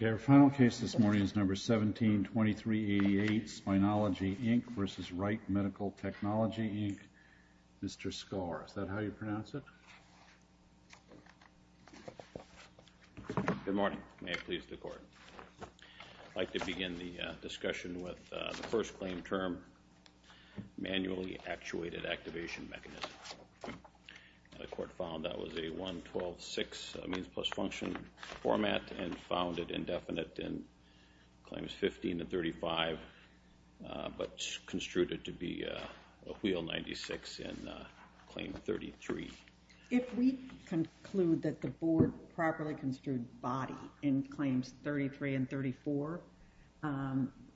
Okay, our final case this morning is number 172388, Spineology, Inc. v. Wright Medical Technology, Inc., Mr. Skor. Is that how you pronounce it? Good morning. May it please the Court. I'd like to begin the discussion with the first claim term, manually actuated activation mechanism. The Court found that was a 112.6 means plus function format and found it indefinite in Claims 15 and 35, but construed it to be a wheel 96 in Claim 33. If we conclude that the Board properly construed body in Claims 33 and 34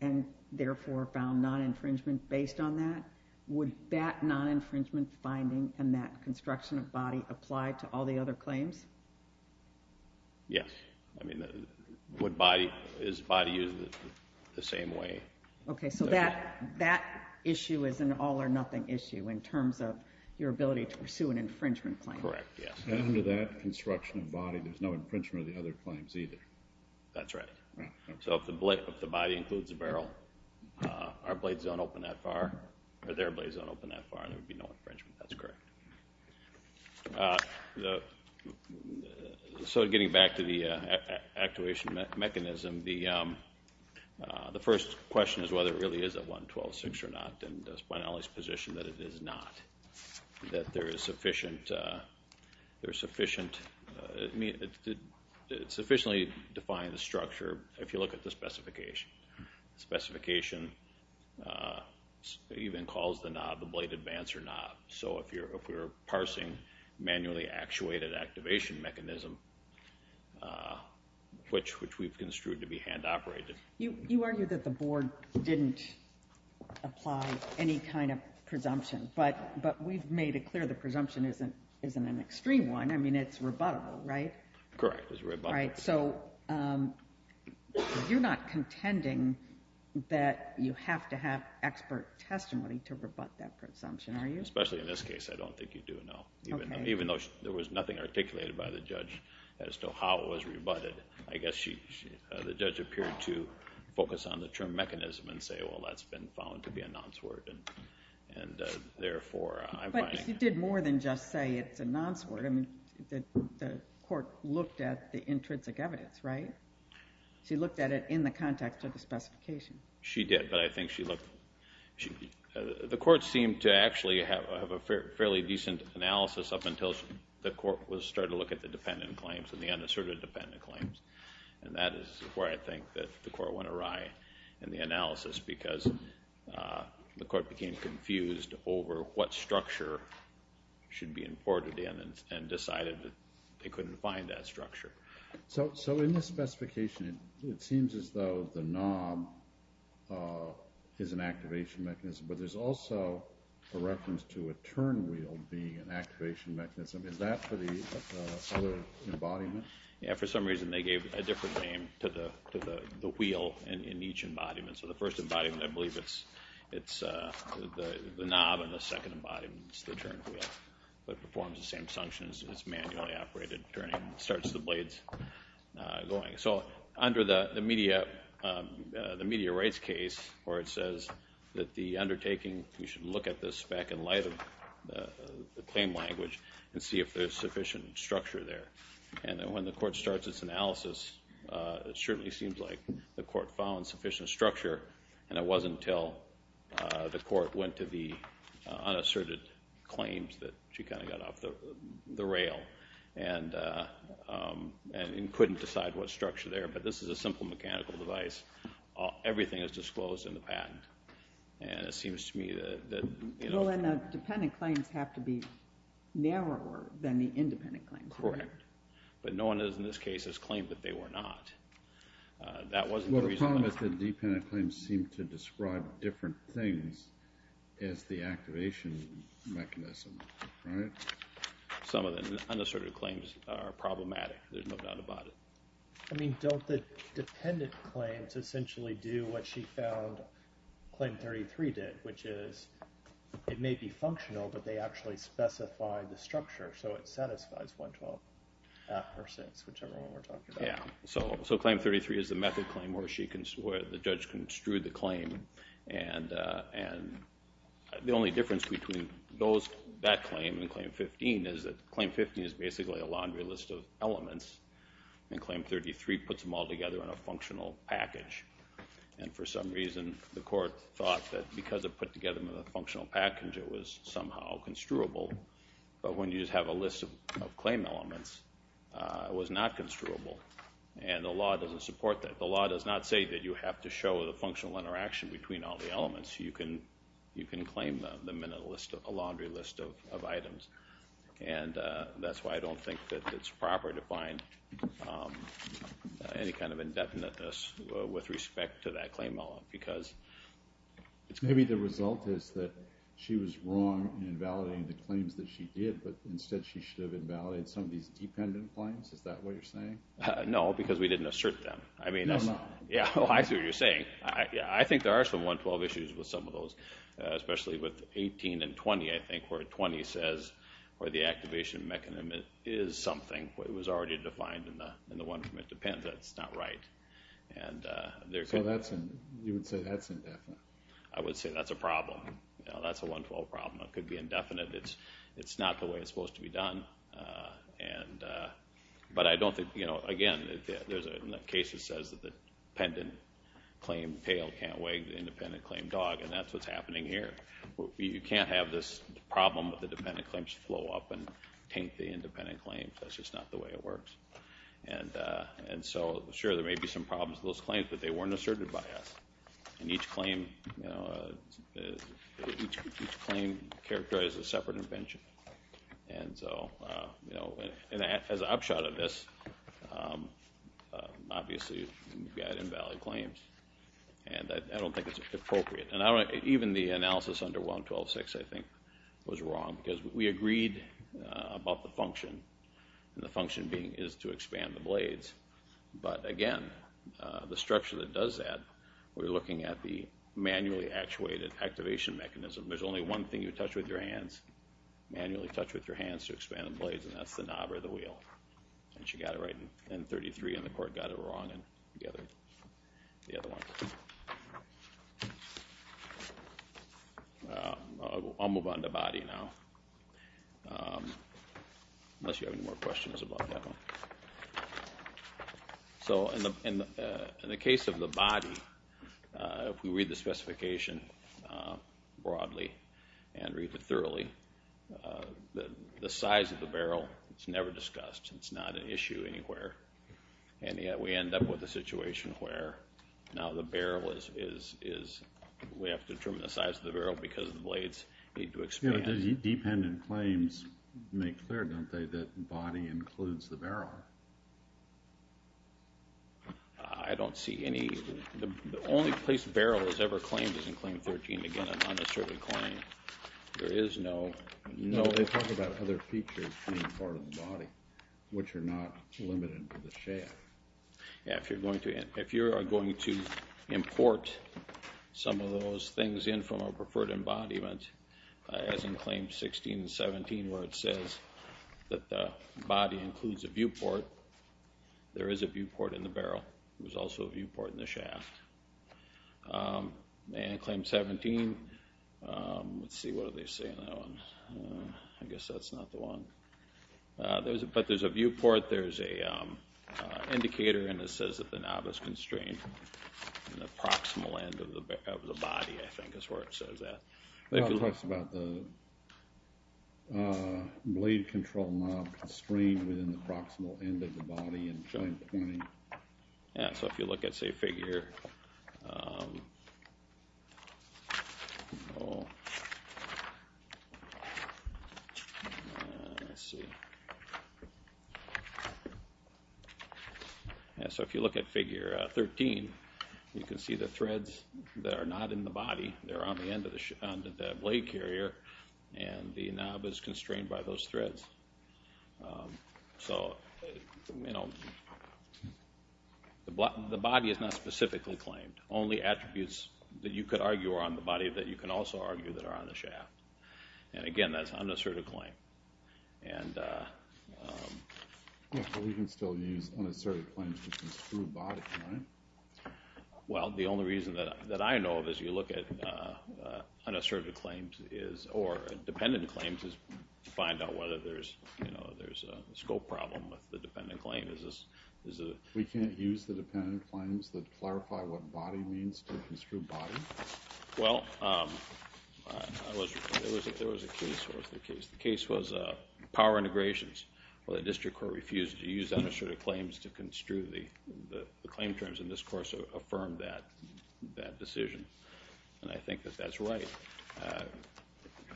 and therefore found non-infringement based on that, would that non-infringement finding and that construction of body apply to all the other claims? Yes. I mean, would body, is body used the same way? Okay, so that issue is an all or nothing issue in terms of your ability to pursue an infringement claim. Correct, yes. And under that construction of body, there's no infringement of the other claims either. That's right. So if the body includes a barrel, our blade is not open that far and there would be no infringement. That's correct. So getting back to the actuation mechanism, the first question is whether it really is a 112.6 or not, and it's my knowledge position that it is not. That there is sufficient, it's sufficiently defined in the structure if you look at the specification. The specification even calls the knob, the blade advance or not. So if you're parsing manually actuated activation mechanism, which we've construed to be hand operated. You argued that the Board didn't apply any kind of presumption, but we've made it clear the presumption isn't an extreme one. I mean, it's rebuttable, right? Correct, it's rebuttable. So you're not contending that you have to have expert testimony to rebut that presumption, are you? Especially in this case, I don't think you do, no. Okay. Even though there was nothing articulated by the judge as to how it was rebutted, I guess the judge appeared to focus on the term mechanism and say, well, that's been found to be a nonce word and therefore, I'm fine. But she did more than just say it's a nonce word. I mean, the court looked at the intrinsic evidence, right? She looked at it in the context of the specification. She did, but I think she looked, the court seemed to actually have a fairly decent analysis up until the court was starting to look at the dependent claims and the unasserted dependent claims. And that is where I think that the court went awry in the analysis because the court became confused over what structure should be imported in and decided that they couldn't find that structure. So in this specification, it seems as though the knob is an activation mechanism, but there's also a reference to a turnwheel being an activation mechanism. Is that for the other embodiment? Yeah. For some reason, they gave a different name to the wheel in each embodiment. So the first embodiment, I believe it's the knob and the second embodiment is the turnwheel. But it performs the same functions. It's manually operated, turning, starts the blades going. So under the media rights case where it says that the undertaking, you should look at this back in light of the claim language and see if there's sufficient structure there. And then when the court starts its analysis, it certainly seems like the court found sufficient structure. And it wasn't until the court went to the unasserted claims that she kind of got off the rail and couldn't decide what structure there. But this is a simple mechanical device. Everything is disclosed in the patent. And it seems to me that, you know. Well, and the dependent claims have to be narrower than the independent claims. Correct. But no one in this case has claimed that they were not. That wasn't the reason. But the problem is the dependent claims seem to describe different things as the activation mechanism, right? Some of the unasserted claims are problematic. There's no doubt about it. I mean, don't the dependent claims essentially do what she found Claim 33 did, which is it may be functional, but they actually specify the structure. So it satisfies 112 percent, whichever one we're talking about. Yeah. So Claim 33 is the method claim where the judge construed the claim. And the only difference between that claim and Claim 15 is that Claim 15 is basically a laundry list of elements. And Claim 33 puts them all together in a functional package. And for some reason, the court thought that because it put together them in a functional package, it was somehow construable. But when you just have a list of claim elements, it was not construable. And the law doesn't support that. The law does not say that you have to show the functional interaction between all the elements. You can claim them in a list, a laundry list of items. And that's why I don't think that it's proper to find any kind of indefiniteness with respect to that claim element. Because maybe the result is that she was wrong in validating the claims that she did, but instead she should have invalidated some of these dependent claims? Is that what you're saying? No, because we didn't assert them. No, no. Yeah, well, I see what you're saying. I think there are some 112 issues with some of those, especially with 18 and 20, I think, where 20 says where the activation mechanism is something. It was already defined in the one from Independence. That's not right. So you would say that's indefinite? I would say that's a problem. That's a 112 problem. It could be indefinite. It's not the way it's supposed to be done. But I don't think, again, there's a case that says that the dependent claim tail can't wag the independent claim dog, and that's what's happening here. You can't have this problem of the dependent claims flow up and taint the independent claims. That's just not the way it works. And so, sure, there may be some problems with those claims, but they weren't asserted by us. And each claim characterizes a separate invention. And so, as an upshot of this, obviously, you've got invalid claims, and I don't think it's appropriate. And even the analysis under 112.6, I think, was wrong, because we agreed about the function, and the function being is to expand the blades. But again, the structure that does that, we're looking at the manually actuated activation mechanism. There's only one thing you touch with your hands, manually touch with your hands to expand the blades, and that's the knob or the wheel. And she got it right in 33, and the court got it wrong in the other one. I'll move on to body now. Unless you have any more questions about that one. So, in the case of the body, if we read the specification broadly, and read it thoroughly, the size of the barrel, it's never discussed. It's not an issue anywhere. And yet, we end up with a situation where now the barrel is, we have to determine the size of the barrel because the blades need to expand. Yeah, but does dependent claims make clear, don't they, that body includes the barrel? I don't see any. The only place barrel is ever claimed is in claim 13. Again, I'm not necessarily claiming. There is no No, they talk about other features being part of the body, which are not limited to the shaft. Yeah, if you're going to import some of those things in from a preferred embodiment, as in claims 16 and 17, where it says that the body includes a viewport, there is a viewport in the barrel. There's also a viewport in the shaft. And in claim 17, let's see, what do they say in that one? I guess that's not the one. But there's a viewport, there's an indicator and it says that the knob is constrained. And the proximal end of the body, I think, is where it says that. It talks about the blade control knob constrained within the proximal end of the body and joint pointing. Yeah, so if you look at, say, figure let's see Yeah, so if you look at figure 13, you can see the threads that are not in the body. They're on the end of the blade carrier and the knob is constrained by those threads. So, you know the body is not specifically claimed. Only attributes that you could argue are on the body that you can also argue that are on the shaft. And again, that's an unasserted claim. Yeah, but we can still use unasserted claims to construe body, right? Well, the only reason that I know of is you look at unasserted claims or dependent claims to find out whether there's a scope problem with the dependent claim. We can't use the dependent claims that clarify what body means to construe body? Well, there was a case the case was power integrations where the district court refused to use unasserted claims to construe the claim terms in this course affirmed that decision. And I think that that's right.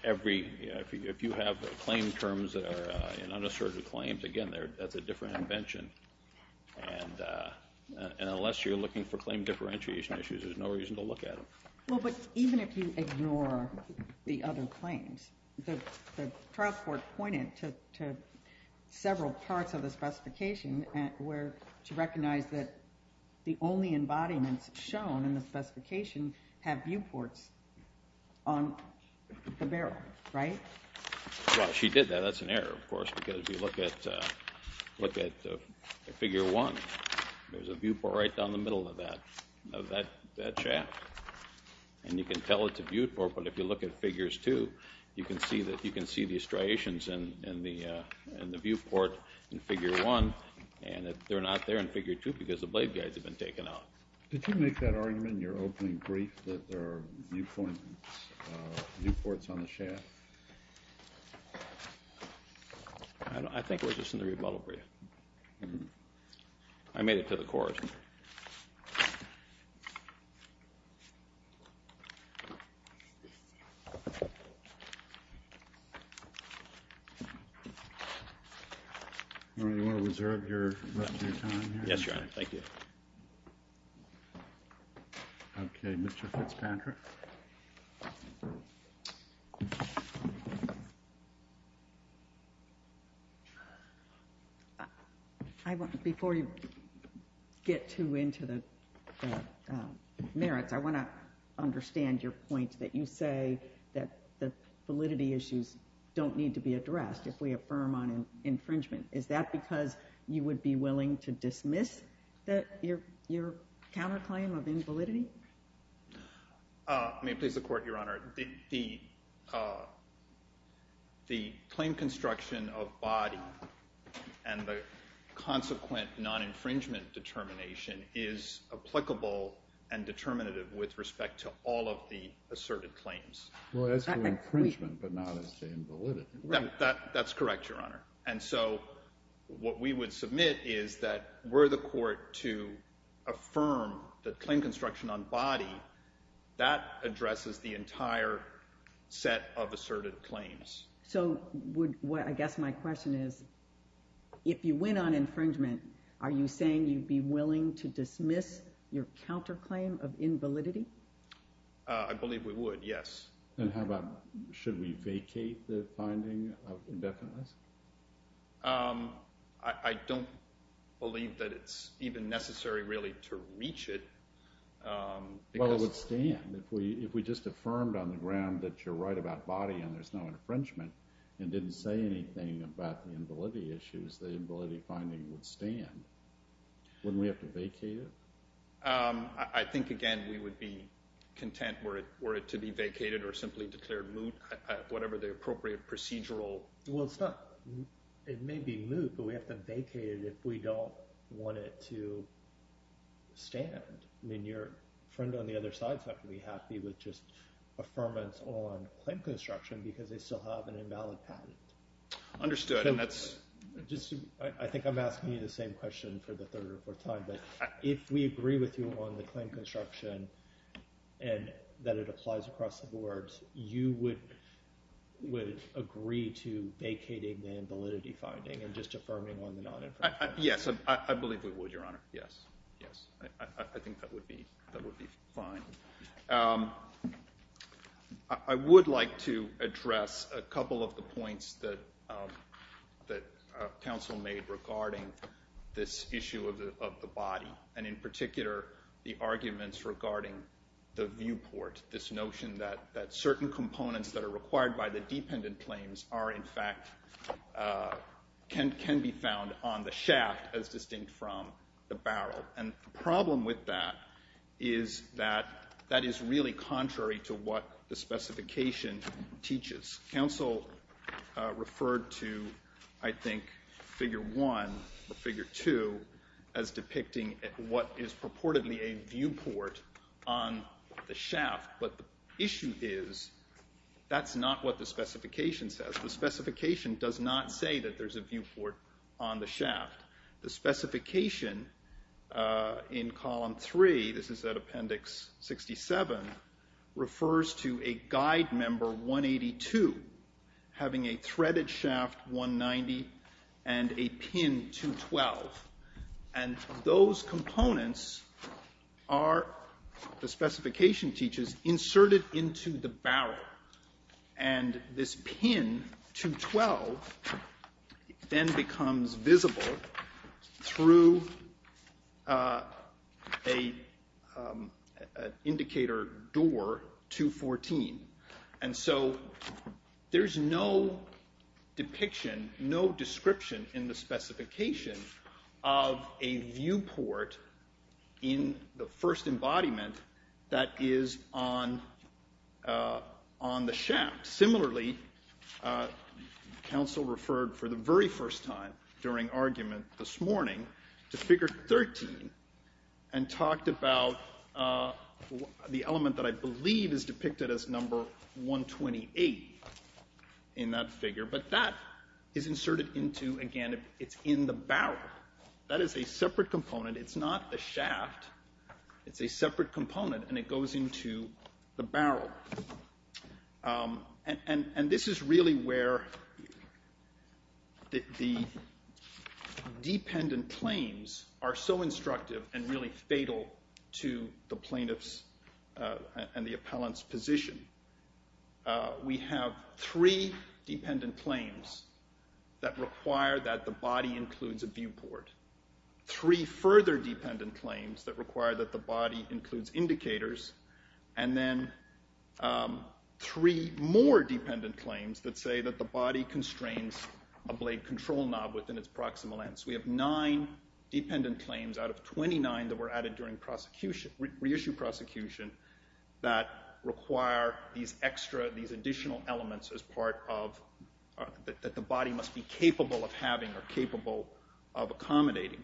If you have claim terms that are in unasserted claims, again, that's a different invention. And unless you're looking for claim differentiation issues there's no reason to look at them. Well, but even if you ignore the other claims, the trial court pointed to several parts of the specification where she recognized that the only embodiments shown in the specification have viewports on the barrel, right? Well, she did that. That's an error, of course, because if you look at figure one, there's a viewport right down the middle of that shaft. And you can tell it's a viewport, but if you look at figures two, you can see the striations in the viewport in figure one and they're not there in figure two because the blade guides have been taken out. Did you make that argument in your opening brief that there are viewpoints viewports on the shaft? I think it was just in the rebuttal brief. I made it to the court. You want to reserve your time here? Yes, Your Honor. Thank you. Okay, Mr. Fitzpatrick. Before you get too into the merits, I want to understand your point that you say that the validity issues don't need to be addressed if we affirm on infringement. Is that because you would be willing to dismiss your counterclaim of invalidity? May it please the Court, Your Honor. The claim construction of body and the consequent non-infringement determination is applicable and determinative with respect to all of the infringement, but not as to invalidity. What we would submit is that were the court to affirm the claim construction on body that addresses the entire set of asserted claims. I guess my question is if you win on infringement, are you saying you'd be willing to dismiss your counterclaim of invalidity? I believe we would, yes. Should we vacate the finding of indefiniteness? I don't believe that it's even necessary really to reach it. Well, it would stand. If we just affirmed on the ground that you're right about body and there's no infringement and didn't say anything about the invalidity issues, the invalidity finding would stand. Wouldn't we have to vacate it? I think, again, we would be content were it to be vacated or simply declared moot, whatever the appropriate procedural Well, it may be moot, but we have to vacate it if we don't want it to stand. Your friend on the other side is not going to be happy with just affirmance on claim construction because they still have an invalid patent. Understood. I think I'm asking you the same question for the third or fourth time, but if we agree with you on the claim construction and that it applies across the boards, you would agree to vacating the invalidity finding and just affirming on the non-infringement? Yes, I believe we would, Your Honor. Yes, I think that would be fine. I would like to address a couple of the points that counsel made regarding this issue of the body and, in particular, the arguments regarding the viewport, this notion that certain components that are required by the dependent claims are, in fact, can be found on the shaft as distinct from the barrel. And the problem with that is that that is really contrary to what the specification teaches. Counsel referred to, I think, Figure 1 or Figure 2 as depicting what is purportedly a viewport on the shaft, but the issue is that's not what the specification says. The specification does not say that there's a viewport on the shaft. The specification in Column 3, this is at Appendix 67, refers to a guide member, 182, having a threaded shaft, 190, and a pin, 212. And those components are, the specification teaches, inserted into the barrel. And this pin, 212, then becomes visible through an indicator door, 214. And so there's no depiction, no description in the specification of a viewport in the first embodiment that is on the shaft. Similarly, counsel referred for the very first time during argument this morning to Figure 13 and talked about the element that I believe is depicted as number 128 in that figure, but that is inserted into, again, it's in the barrel. That is a separate component. It's not the shaft. It's a separate component, and it goes into the barrel. And this is really where the dependent claims are so instructive and really fatal to the plaintiff's and the appellant's position. We have three dependent claims that require that the body includes a viewport, three further dependent claims that require that the body includes indicators, and then three more dependent claims that say that the body constrains a blade control knob within its proximal ends. We have nine dependent claims out of reissue prosecution that require these extra, these additional elements as part of, that the body must be capable of having or capable of accommodating.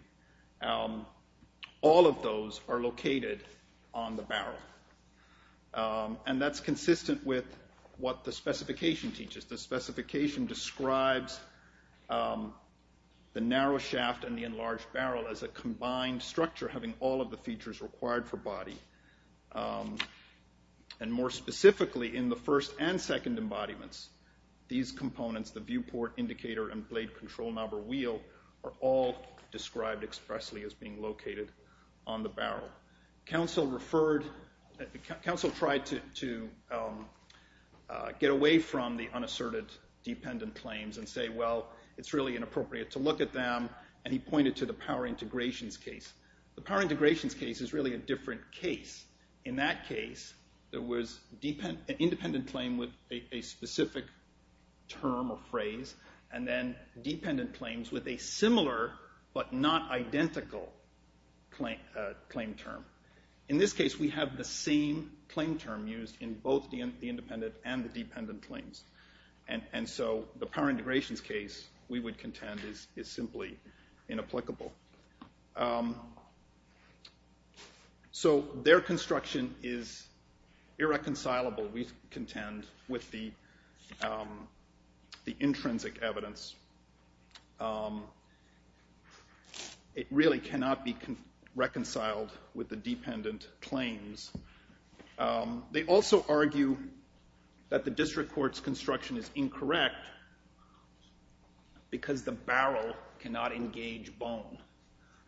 All of those are located on the barrel. And that's consistent with what the specification teaches. The specification describes the narrow shaft and the enlarged barrel as a combined structure having all of the features required for body. And more specifically, in the first and second embodiments, these components, the viewport, indicator, and blade control knob or wheel, are all described expressly as being located on the barrel. Counsel referred, counsel tried to get away from the unasserted dependent claims and say, well, it's really inappropriate to look at them, and he pointed to the power integrations case. The power integrations case is really a different case. In that case, there was an independent claim with a specific term or phrase, and then dependent claims with a similar but not identical claim term. In this case, we have the same claim term used in both the independent and the dependent claims. And so the power integrations case, we would contend, is simply inapplicable. So their construction is irreconcilable, we contend, with the intrinsic evidence. It really cannot be reconciled with the dependent claims. They also argue that the district court's construction is incorrect because the barrel cannot engage bone.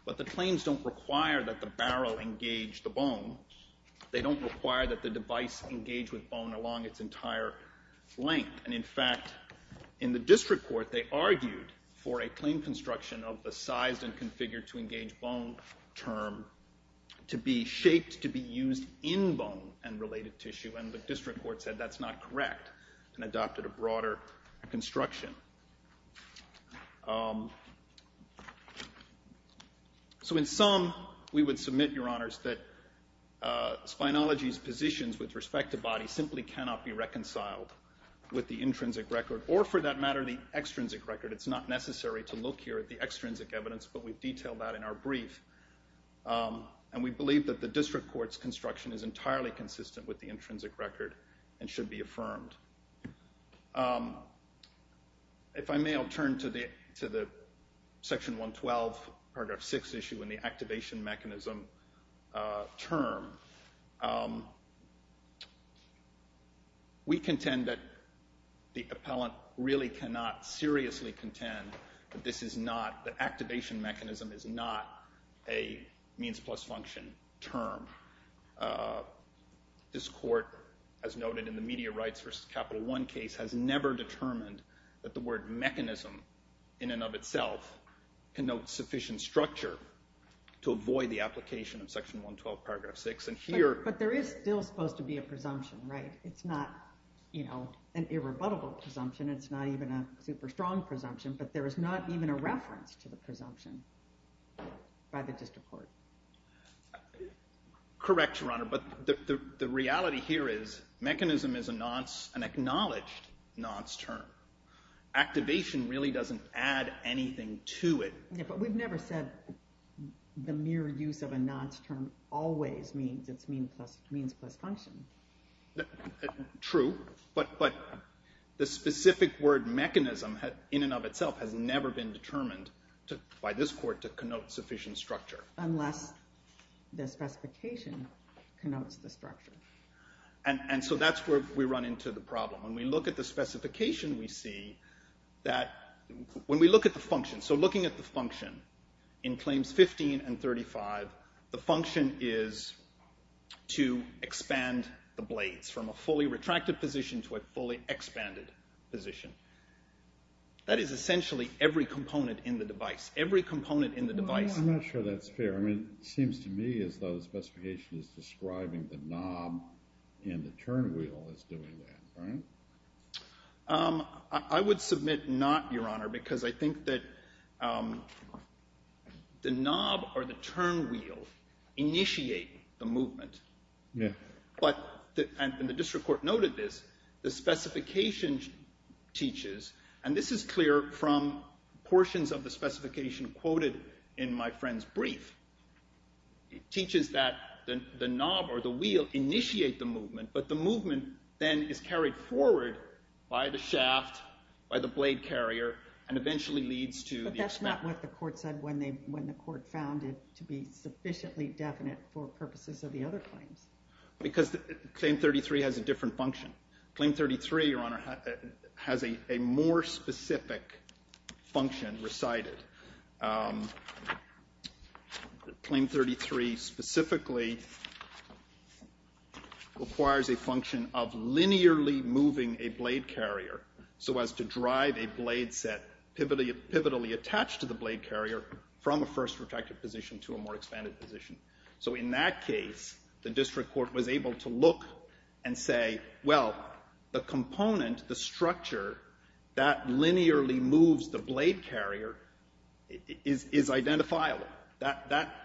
But the claims don't require that the barrel engage the bone. They don't require that the device engage with bone along its entire length. And in fact, in the district court they argued for a claim construction of the sized and configured to engage bone term to be shaped to be used in bone and related tissue, and the district court said that's not correct and adopted a broader construction. So in sum, we would submit, Your Honors, that Spynology's positions with respect to body simply cannot be reconciled with the intrinsic record, or for that matter, the extrinsic record. It's not necessary to look here at the extrinsic evidence, but we've detailed that in our brief. And we believe that the district court's construction is entirely consistent with the intrinsic record and should be affirmed. If I may, I'll turn to the Section 112 Paragraph 6 issue and the activation mechanism term. We contend that the appellant really cannot seriously contend that the activation mechanism is not a means plus function term. This court, as noted in the media rights versus Capital One case, has never determined that the word mechanism in and of itself connotes sufficient structure to avoid the application of Section 112 Paragraph 6. But there is still supposed to be a presumption, right? It's not an irrebuttable presumption, it's not even a super strong presumption, but there is not even a reference to the presumption by the district court. Correct, Your Honor, but the reality here is mechanism is an acknowledged nonce term. Activation really doesn't add anything to it. Yeah, but we've never said the mere use of a nonce term always means it's means plus function. True, but the specific word mechanism in and of itself has never been determined by this court to connote sufficient structure. Unless the specification connotes the structure. And so that's where we run into the problem. When we look at the function, so looking at the function in Claims 15 and 35, the function is to expand the blades from a fully retracted position to a fully expanded position. That is essentially every component in the device. I'm not sure that's fair. It seems to me as though the specification is describing the knob and the turnwheel as doing that, right? I would submit not, Your Honor, because I think that the knob or the turnwheel initiate the movement. But, and the district court noted this, the specification teaches, and this is clear from portions of the specification quoted in my friend's brief. It teaches that the knob or the wheel initiate the movement, but the movement then is carried forward by the shaft, by the blade carrier, and eventually leads to the expansion. But that's not what the court said when the court found it to be sufficiently definite for purposes of the other claims. Because Claim 33 has a different function. Claim 33, Your Honor, has a more specific function recited. Claim 33 specifically requires a function of linearly moving a blade carrier so as to drive a blade set pivotally attached to the blade carrier from a first retracted position to a more expanded position. So in that case, the district court was able to look and say, well, the component, the structure that linearly moves the blade carrier is identifiable.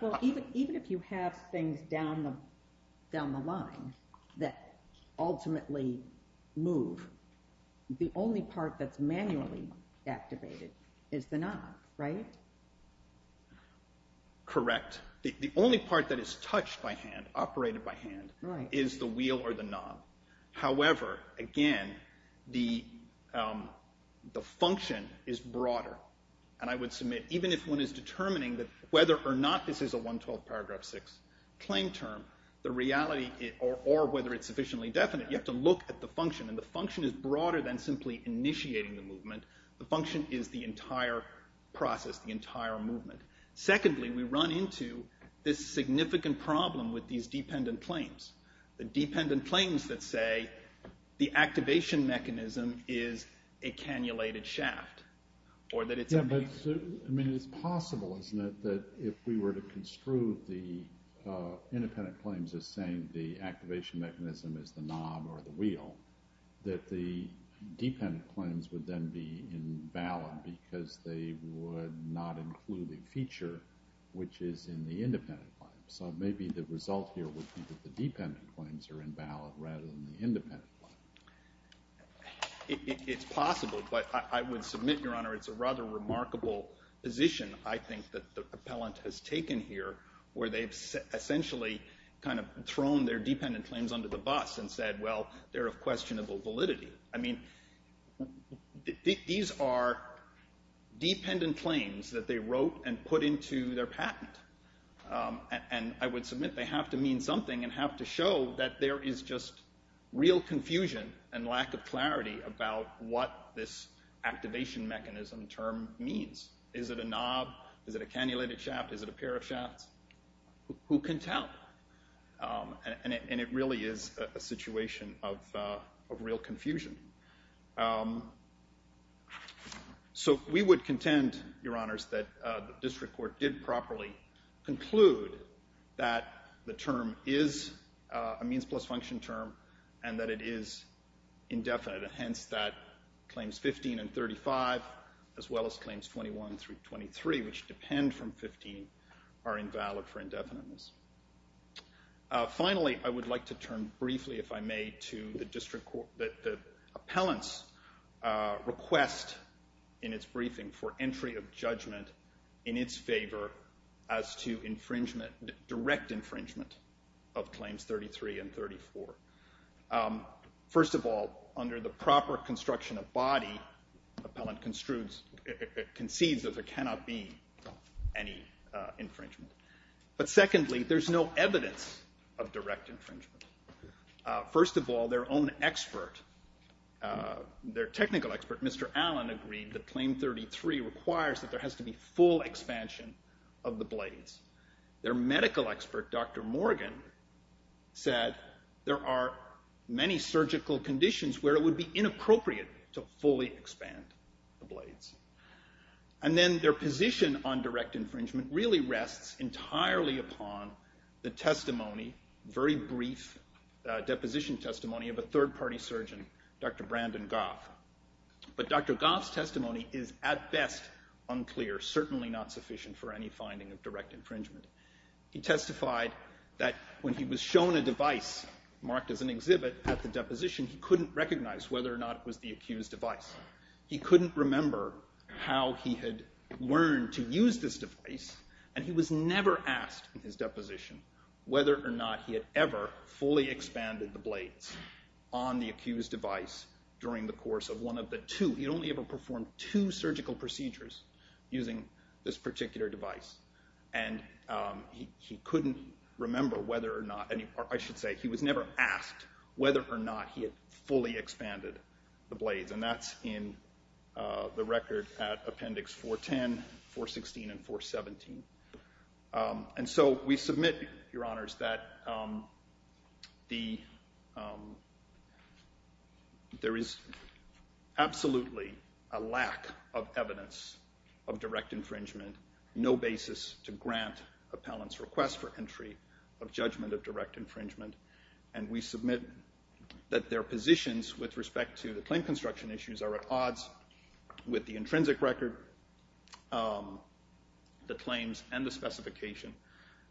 Well, even if you have things down the line that ultimately move, the only part that's manually activated is the knob, right? Correct. The only part that is touched by hand, operated by hand, is the wheel or the knob. However, again, the function is broader. And I would submit, even if one is determining that whether or not this is a 112 paragraph 6 claim term, the reality, or whether it's sufficiently definite, you have to look at the function and the function is broader than simply initiating the movement. The function is the entire process, the entire movement. Secondly, we run into this significant problem with these dependent claims. The dependent claims that say the activation mechanism is a cannulated shaft. I mean, it's possible, isn't it, that if we were to construe the independent claims as saying the activation mechanism is the knob or the wheel, that the dependent claims would then be invalid because they would not include the feature which is in the independent claim. So maybe the result here would be that the dependent claims are invalid rather than the independent claim. It's possible, but I would submit, Your Honor, it's a rather remarkable position, I think, that the appellant has taken here, where they've essentially kind of thrown their dependent claims under the bus and said, well, they're of questionable validity. I mean, these are dependent claims that they wrote and put into their patent and I would submit they have to mean something and have to show that there is just real confusion and lack of clarity about what this activation mechanism term means. Is it a knob? Is it a cannulated shaft? Is it a pair of shafts? Who can tell? And it really is a situation of real confusion. So we would contend, Your Honors, that the district court did properly conclude that the term is a means plus function term and that it is indefinite, and hence that claims 15 and 35 as well as claims 21 through 23, which depend from 15, are invalid for indefiniteness. Finally, I would like to turn briefly, if I may, to the appellant's request in its briefing for entry of judgment in its favor as to direct infringement of claims 33 and 34. First of all, under the proper construction of body, appellant concedes that there cannot be any infringement. But secondly, there's no evidence of direct infringement. First of all, their own expert, their technical expert, Mr. Allen, agreed that claim 33 requires that there has to be full expansion of the blades. Their medical expert, Dr. Morgan, said there are many surgical conditions where it would be inappropriate to fully expand the blades. And then their position on direct infringement really depends on the testimony, very brief deposition testimony of a third-party surgeon, Dr. Brandon Goff. But Dr. Goff's testimony is at best unclear, certainly not sufficient for any finding of direct infringement. He testified that when he was shown a device marked as an exhibit at the deposition, he couldn't recognize whether or not it was the accused device. He couldn't remember how he had learned to use this device and he was never asked in his deposition whether or not he had ever fully expanded the blades on the accused device during the course of one of the two. He had only ever performed two surgical procedures using this particular device and he couldn't remember whether or not, I should say, he was never asked whether or not he had fully expanded the blades. And that's in the record at Appendix 410, 416, and 417. And so we submit, Your Honors, that there is absolutely a lack of evidence of direct infringement, no basis to grant appellants' request for entry of judgment of direct infringement. And we submit that their positions with respect to the claim construction issues are at odds with the intrinsic record, the claims, and the specification.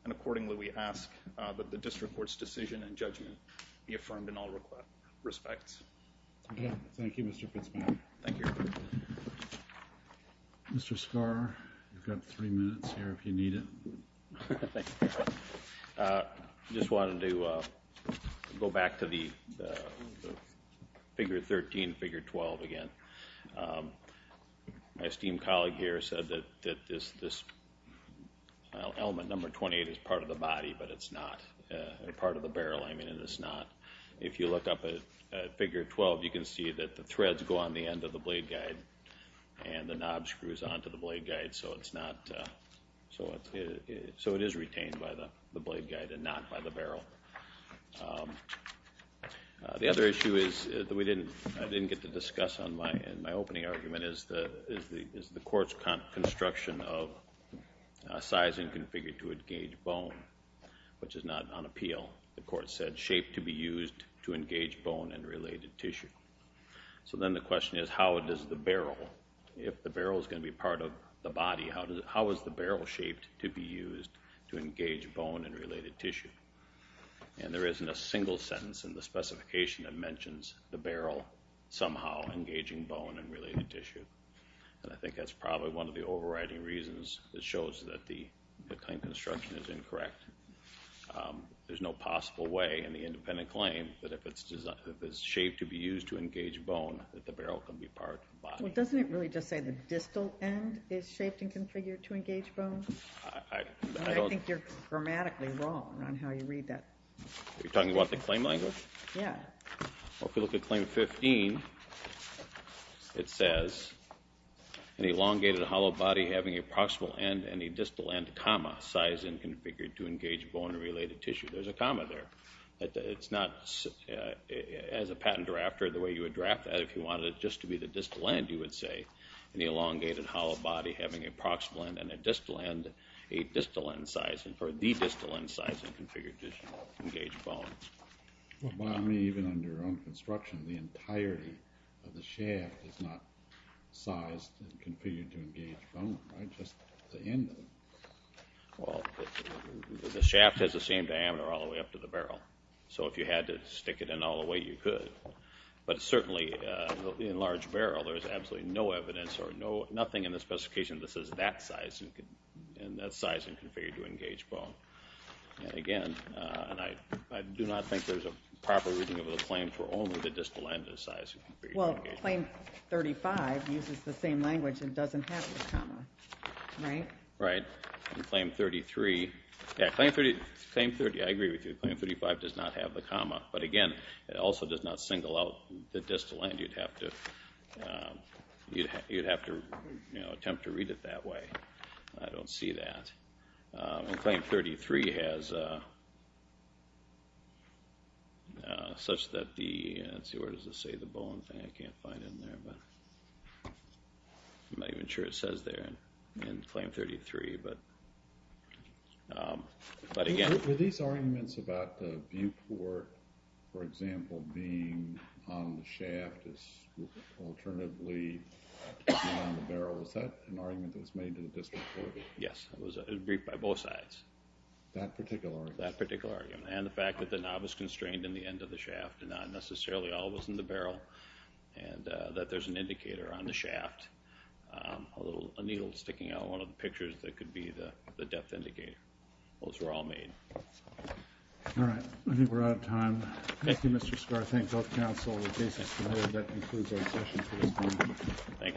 And accordingly, we ask that the district court's decision and judgment be affirmed in all respects. Okay. Thank you, Mr. Principal. Thank you. Mr. Skar, you've got three minutes here if you need it. Thank you. I just wanted to go back to the figure 13 and figure 12 again. My esteemed colleague here said that this element number 28 is part of the body, but it's not part of the barrel. I mean, it is not. If you look up at figure 12, you can see that the threads go on the end of the blade guide and the knob screws onto the blade guide. So it is retained by the blade guide and not by the barrel. The other issue that I didn't get to discuss in my opening argument is the court's construction of sizing configured to engage bone, which is not on appeal. The court said shape to be used to engage bone and related tissue. So then the question is, how does the barrel, if the barrel is going to be part of engaged bone and related tissue? And there isn't a single sentence in the specification that mentions the barrel somehow engaging bone and related tissue. And I think that's probably one of the overriding reasons that shows that the claim construction is incorrect. There's no possible way in the independent claim that if it's shaped to be used to engage bone that the barrel can be part of the body. Well, doesn't it really just say the distal end is shaped and configured to engage bone? I think you're grammatically wrong on how you read that. You're talking about the claim language? Yeah. Well, if we look at Claim 15 it says an elongated hollow body having a proximal end and a distal end comma size and configured to engage bone and related tissue. There's a comma there. It's not, as a patent drafter, the way you would draft that if you wanted it just to be the distal end, you would say an elongated hollow body having a proximal end and a distal end, a distal end size, or the distal end size and configured to engage bone. Well, by me, even under your own construction, the entirety of the shaft is not sized and configured to engage bone, right? Just the end of it. Well, the shaft has the same diameter all the way up to the barrel. So if you had to stick it in all the way, you could. But certainly, in a large barrel, there's absolutely no anything in the specification that says that size and configured to engage bone. And again, I do not think there's a proper reading of the claim for only the distal end size and configured to engage bone. Well, Claim 35 uses the same language and doesn't have the comma. Right? Right. And Claim 33, I agree with you, Claim 35 does not have the comma. But again, it also does not single out the distal end. You'd have to attempt to read it that way. I don't see that. And Claim 33 has such that the, let's see, where does it say the bone thing? I can't find it in there. I'm not even sure it says there in Claim 33. Were these arguments about the viewport, for example, being on the shaft as alternatively being on the barrel? Was that an argument that was made to the district court? Yes. It was briefed by both sides. That particular argument? That particular argument. And the fact that the knob is constrained in the end of the shaft and not necessarily always in the barrel. And that there's an indicator on the shaft. A needle sticking out of one of the pictures that could be the depth indicator. Those were all made. Alright. I think we're out of time. Thank you, Mr. Scarr. I thank both counsel. That concludes our session for this morning.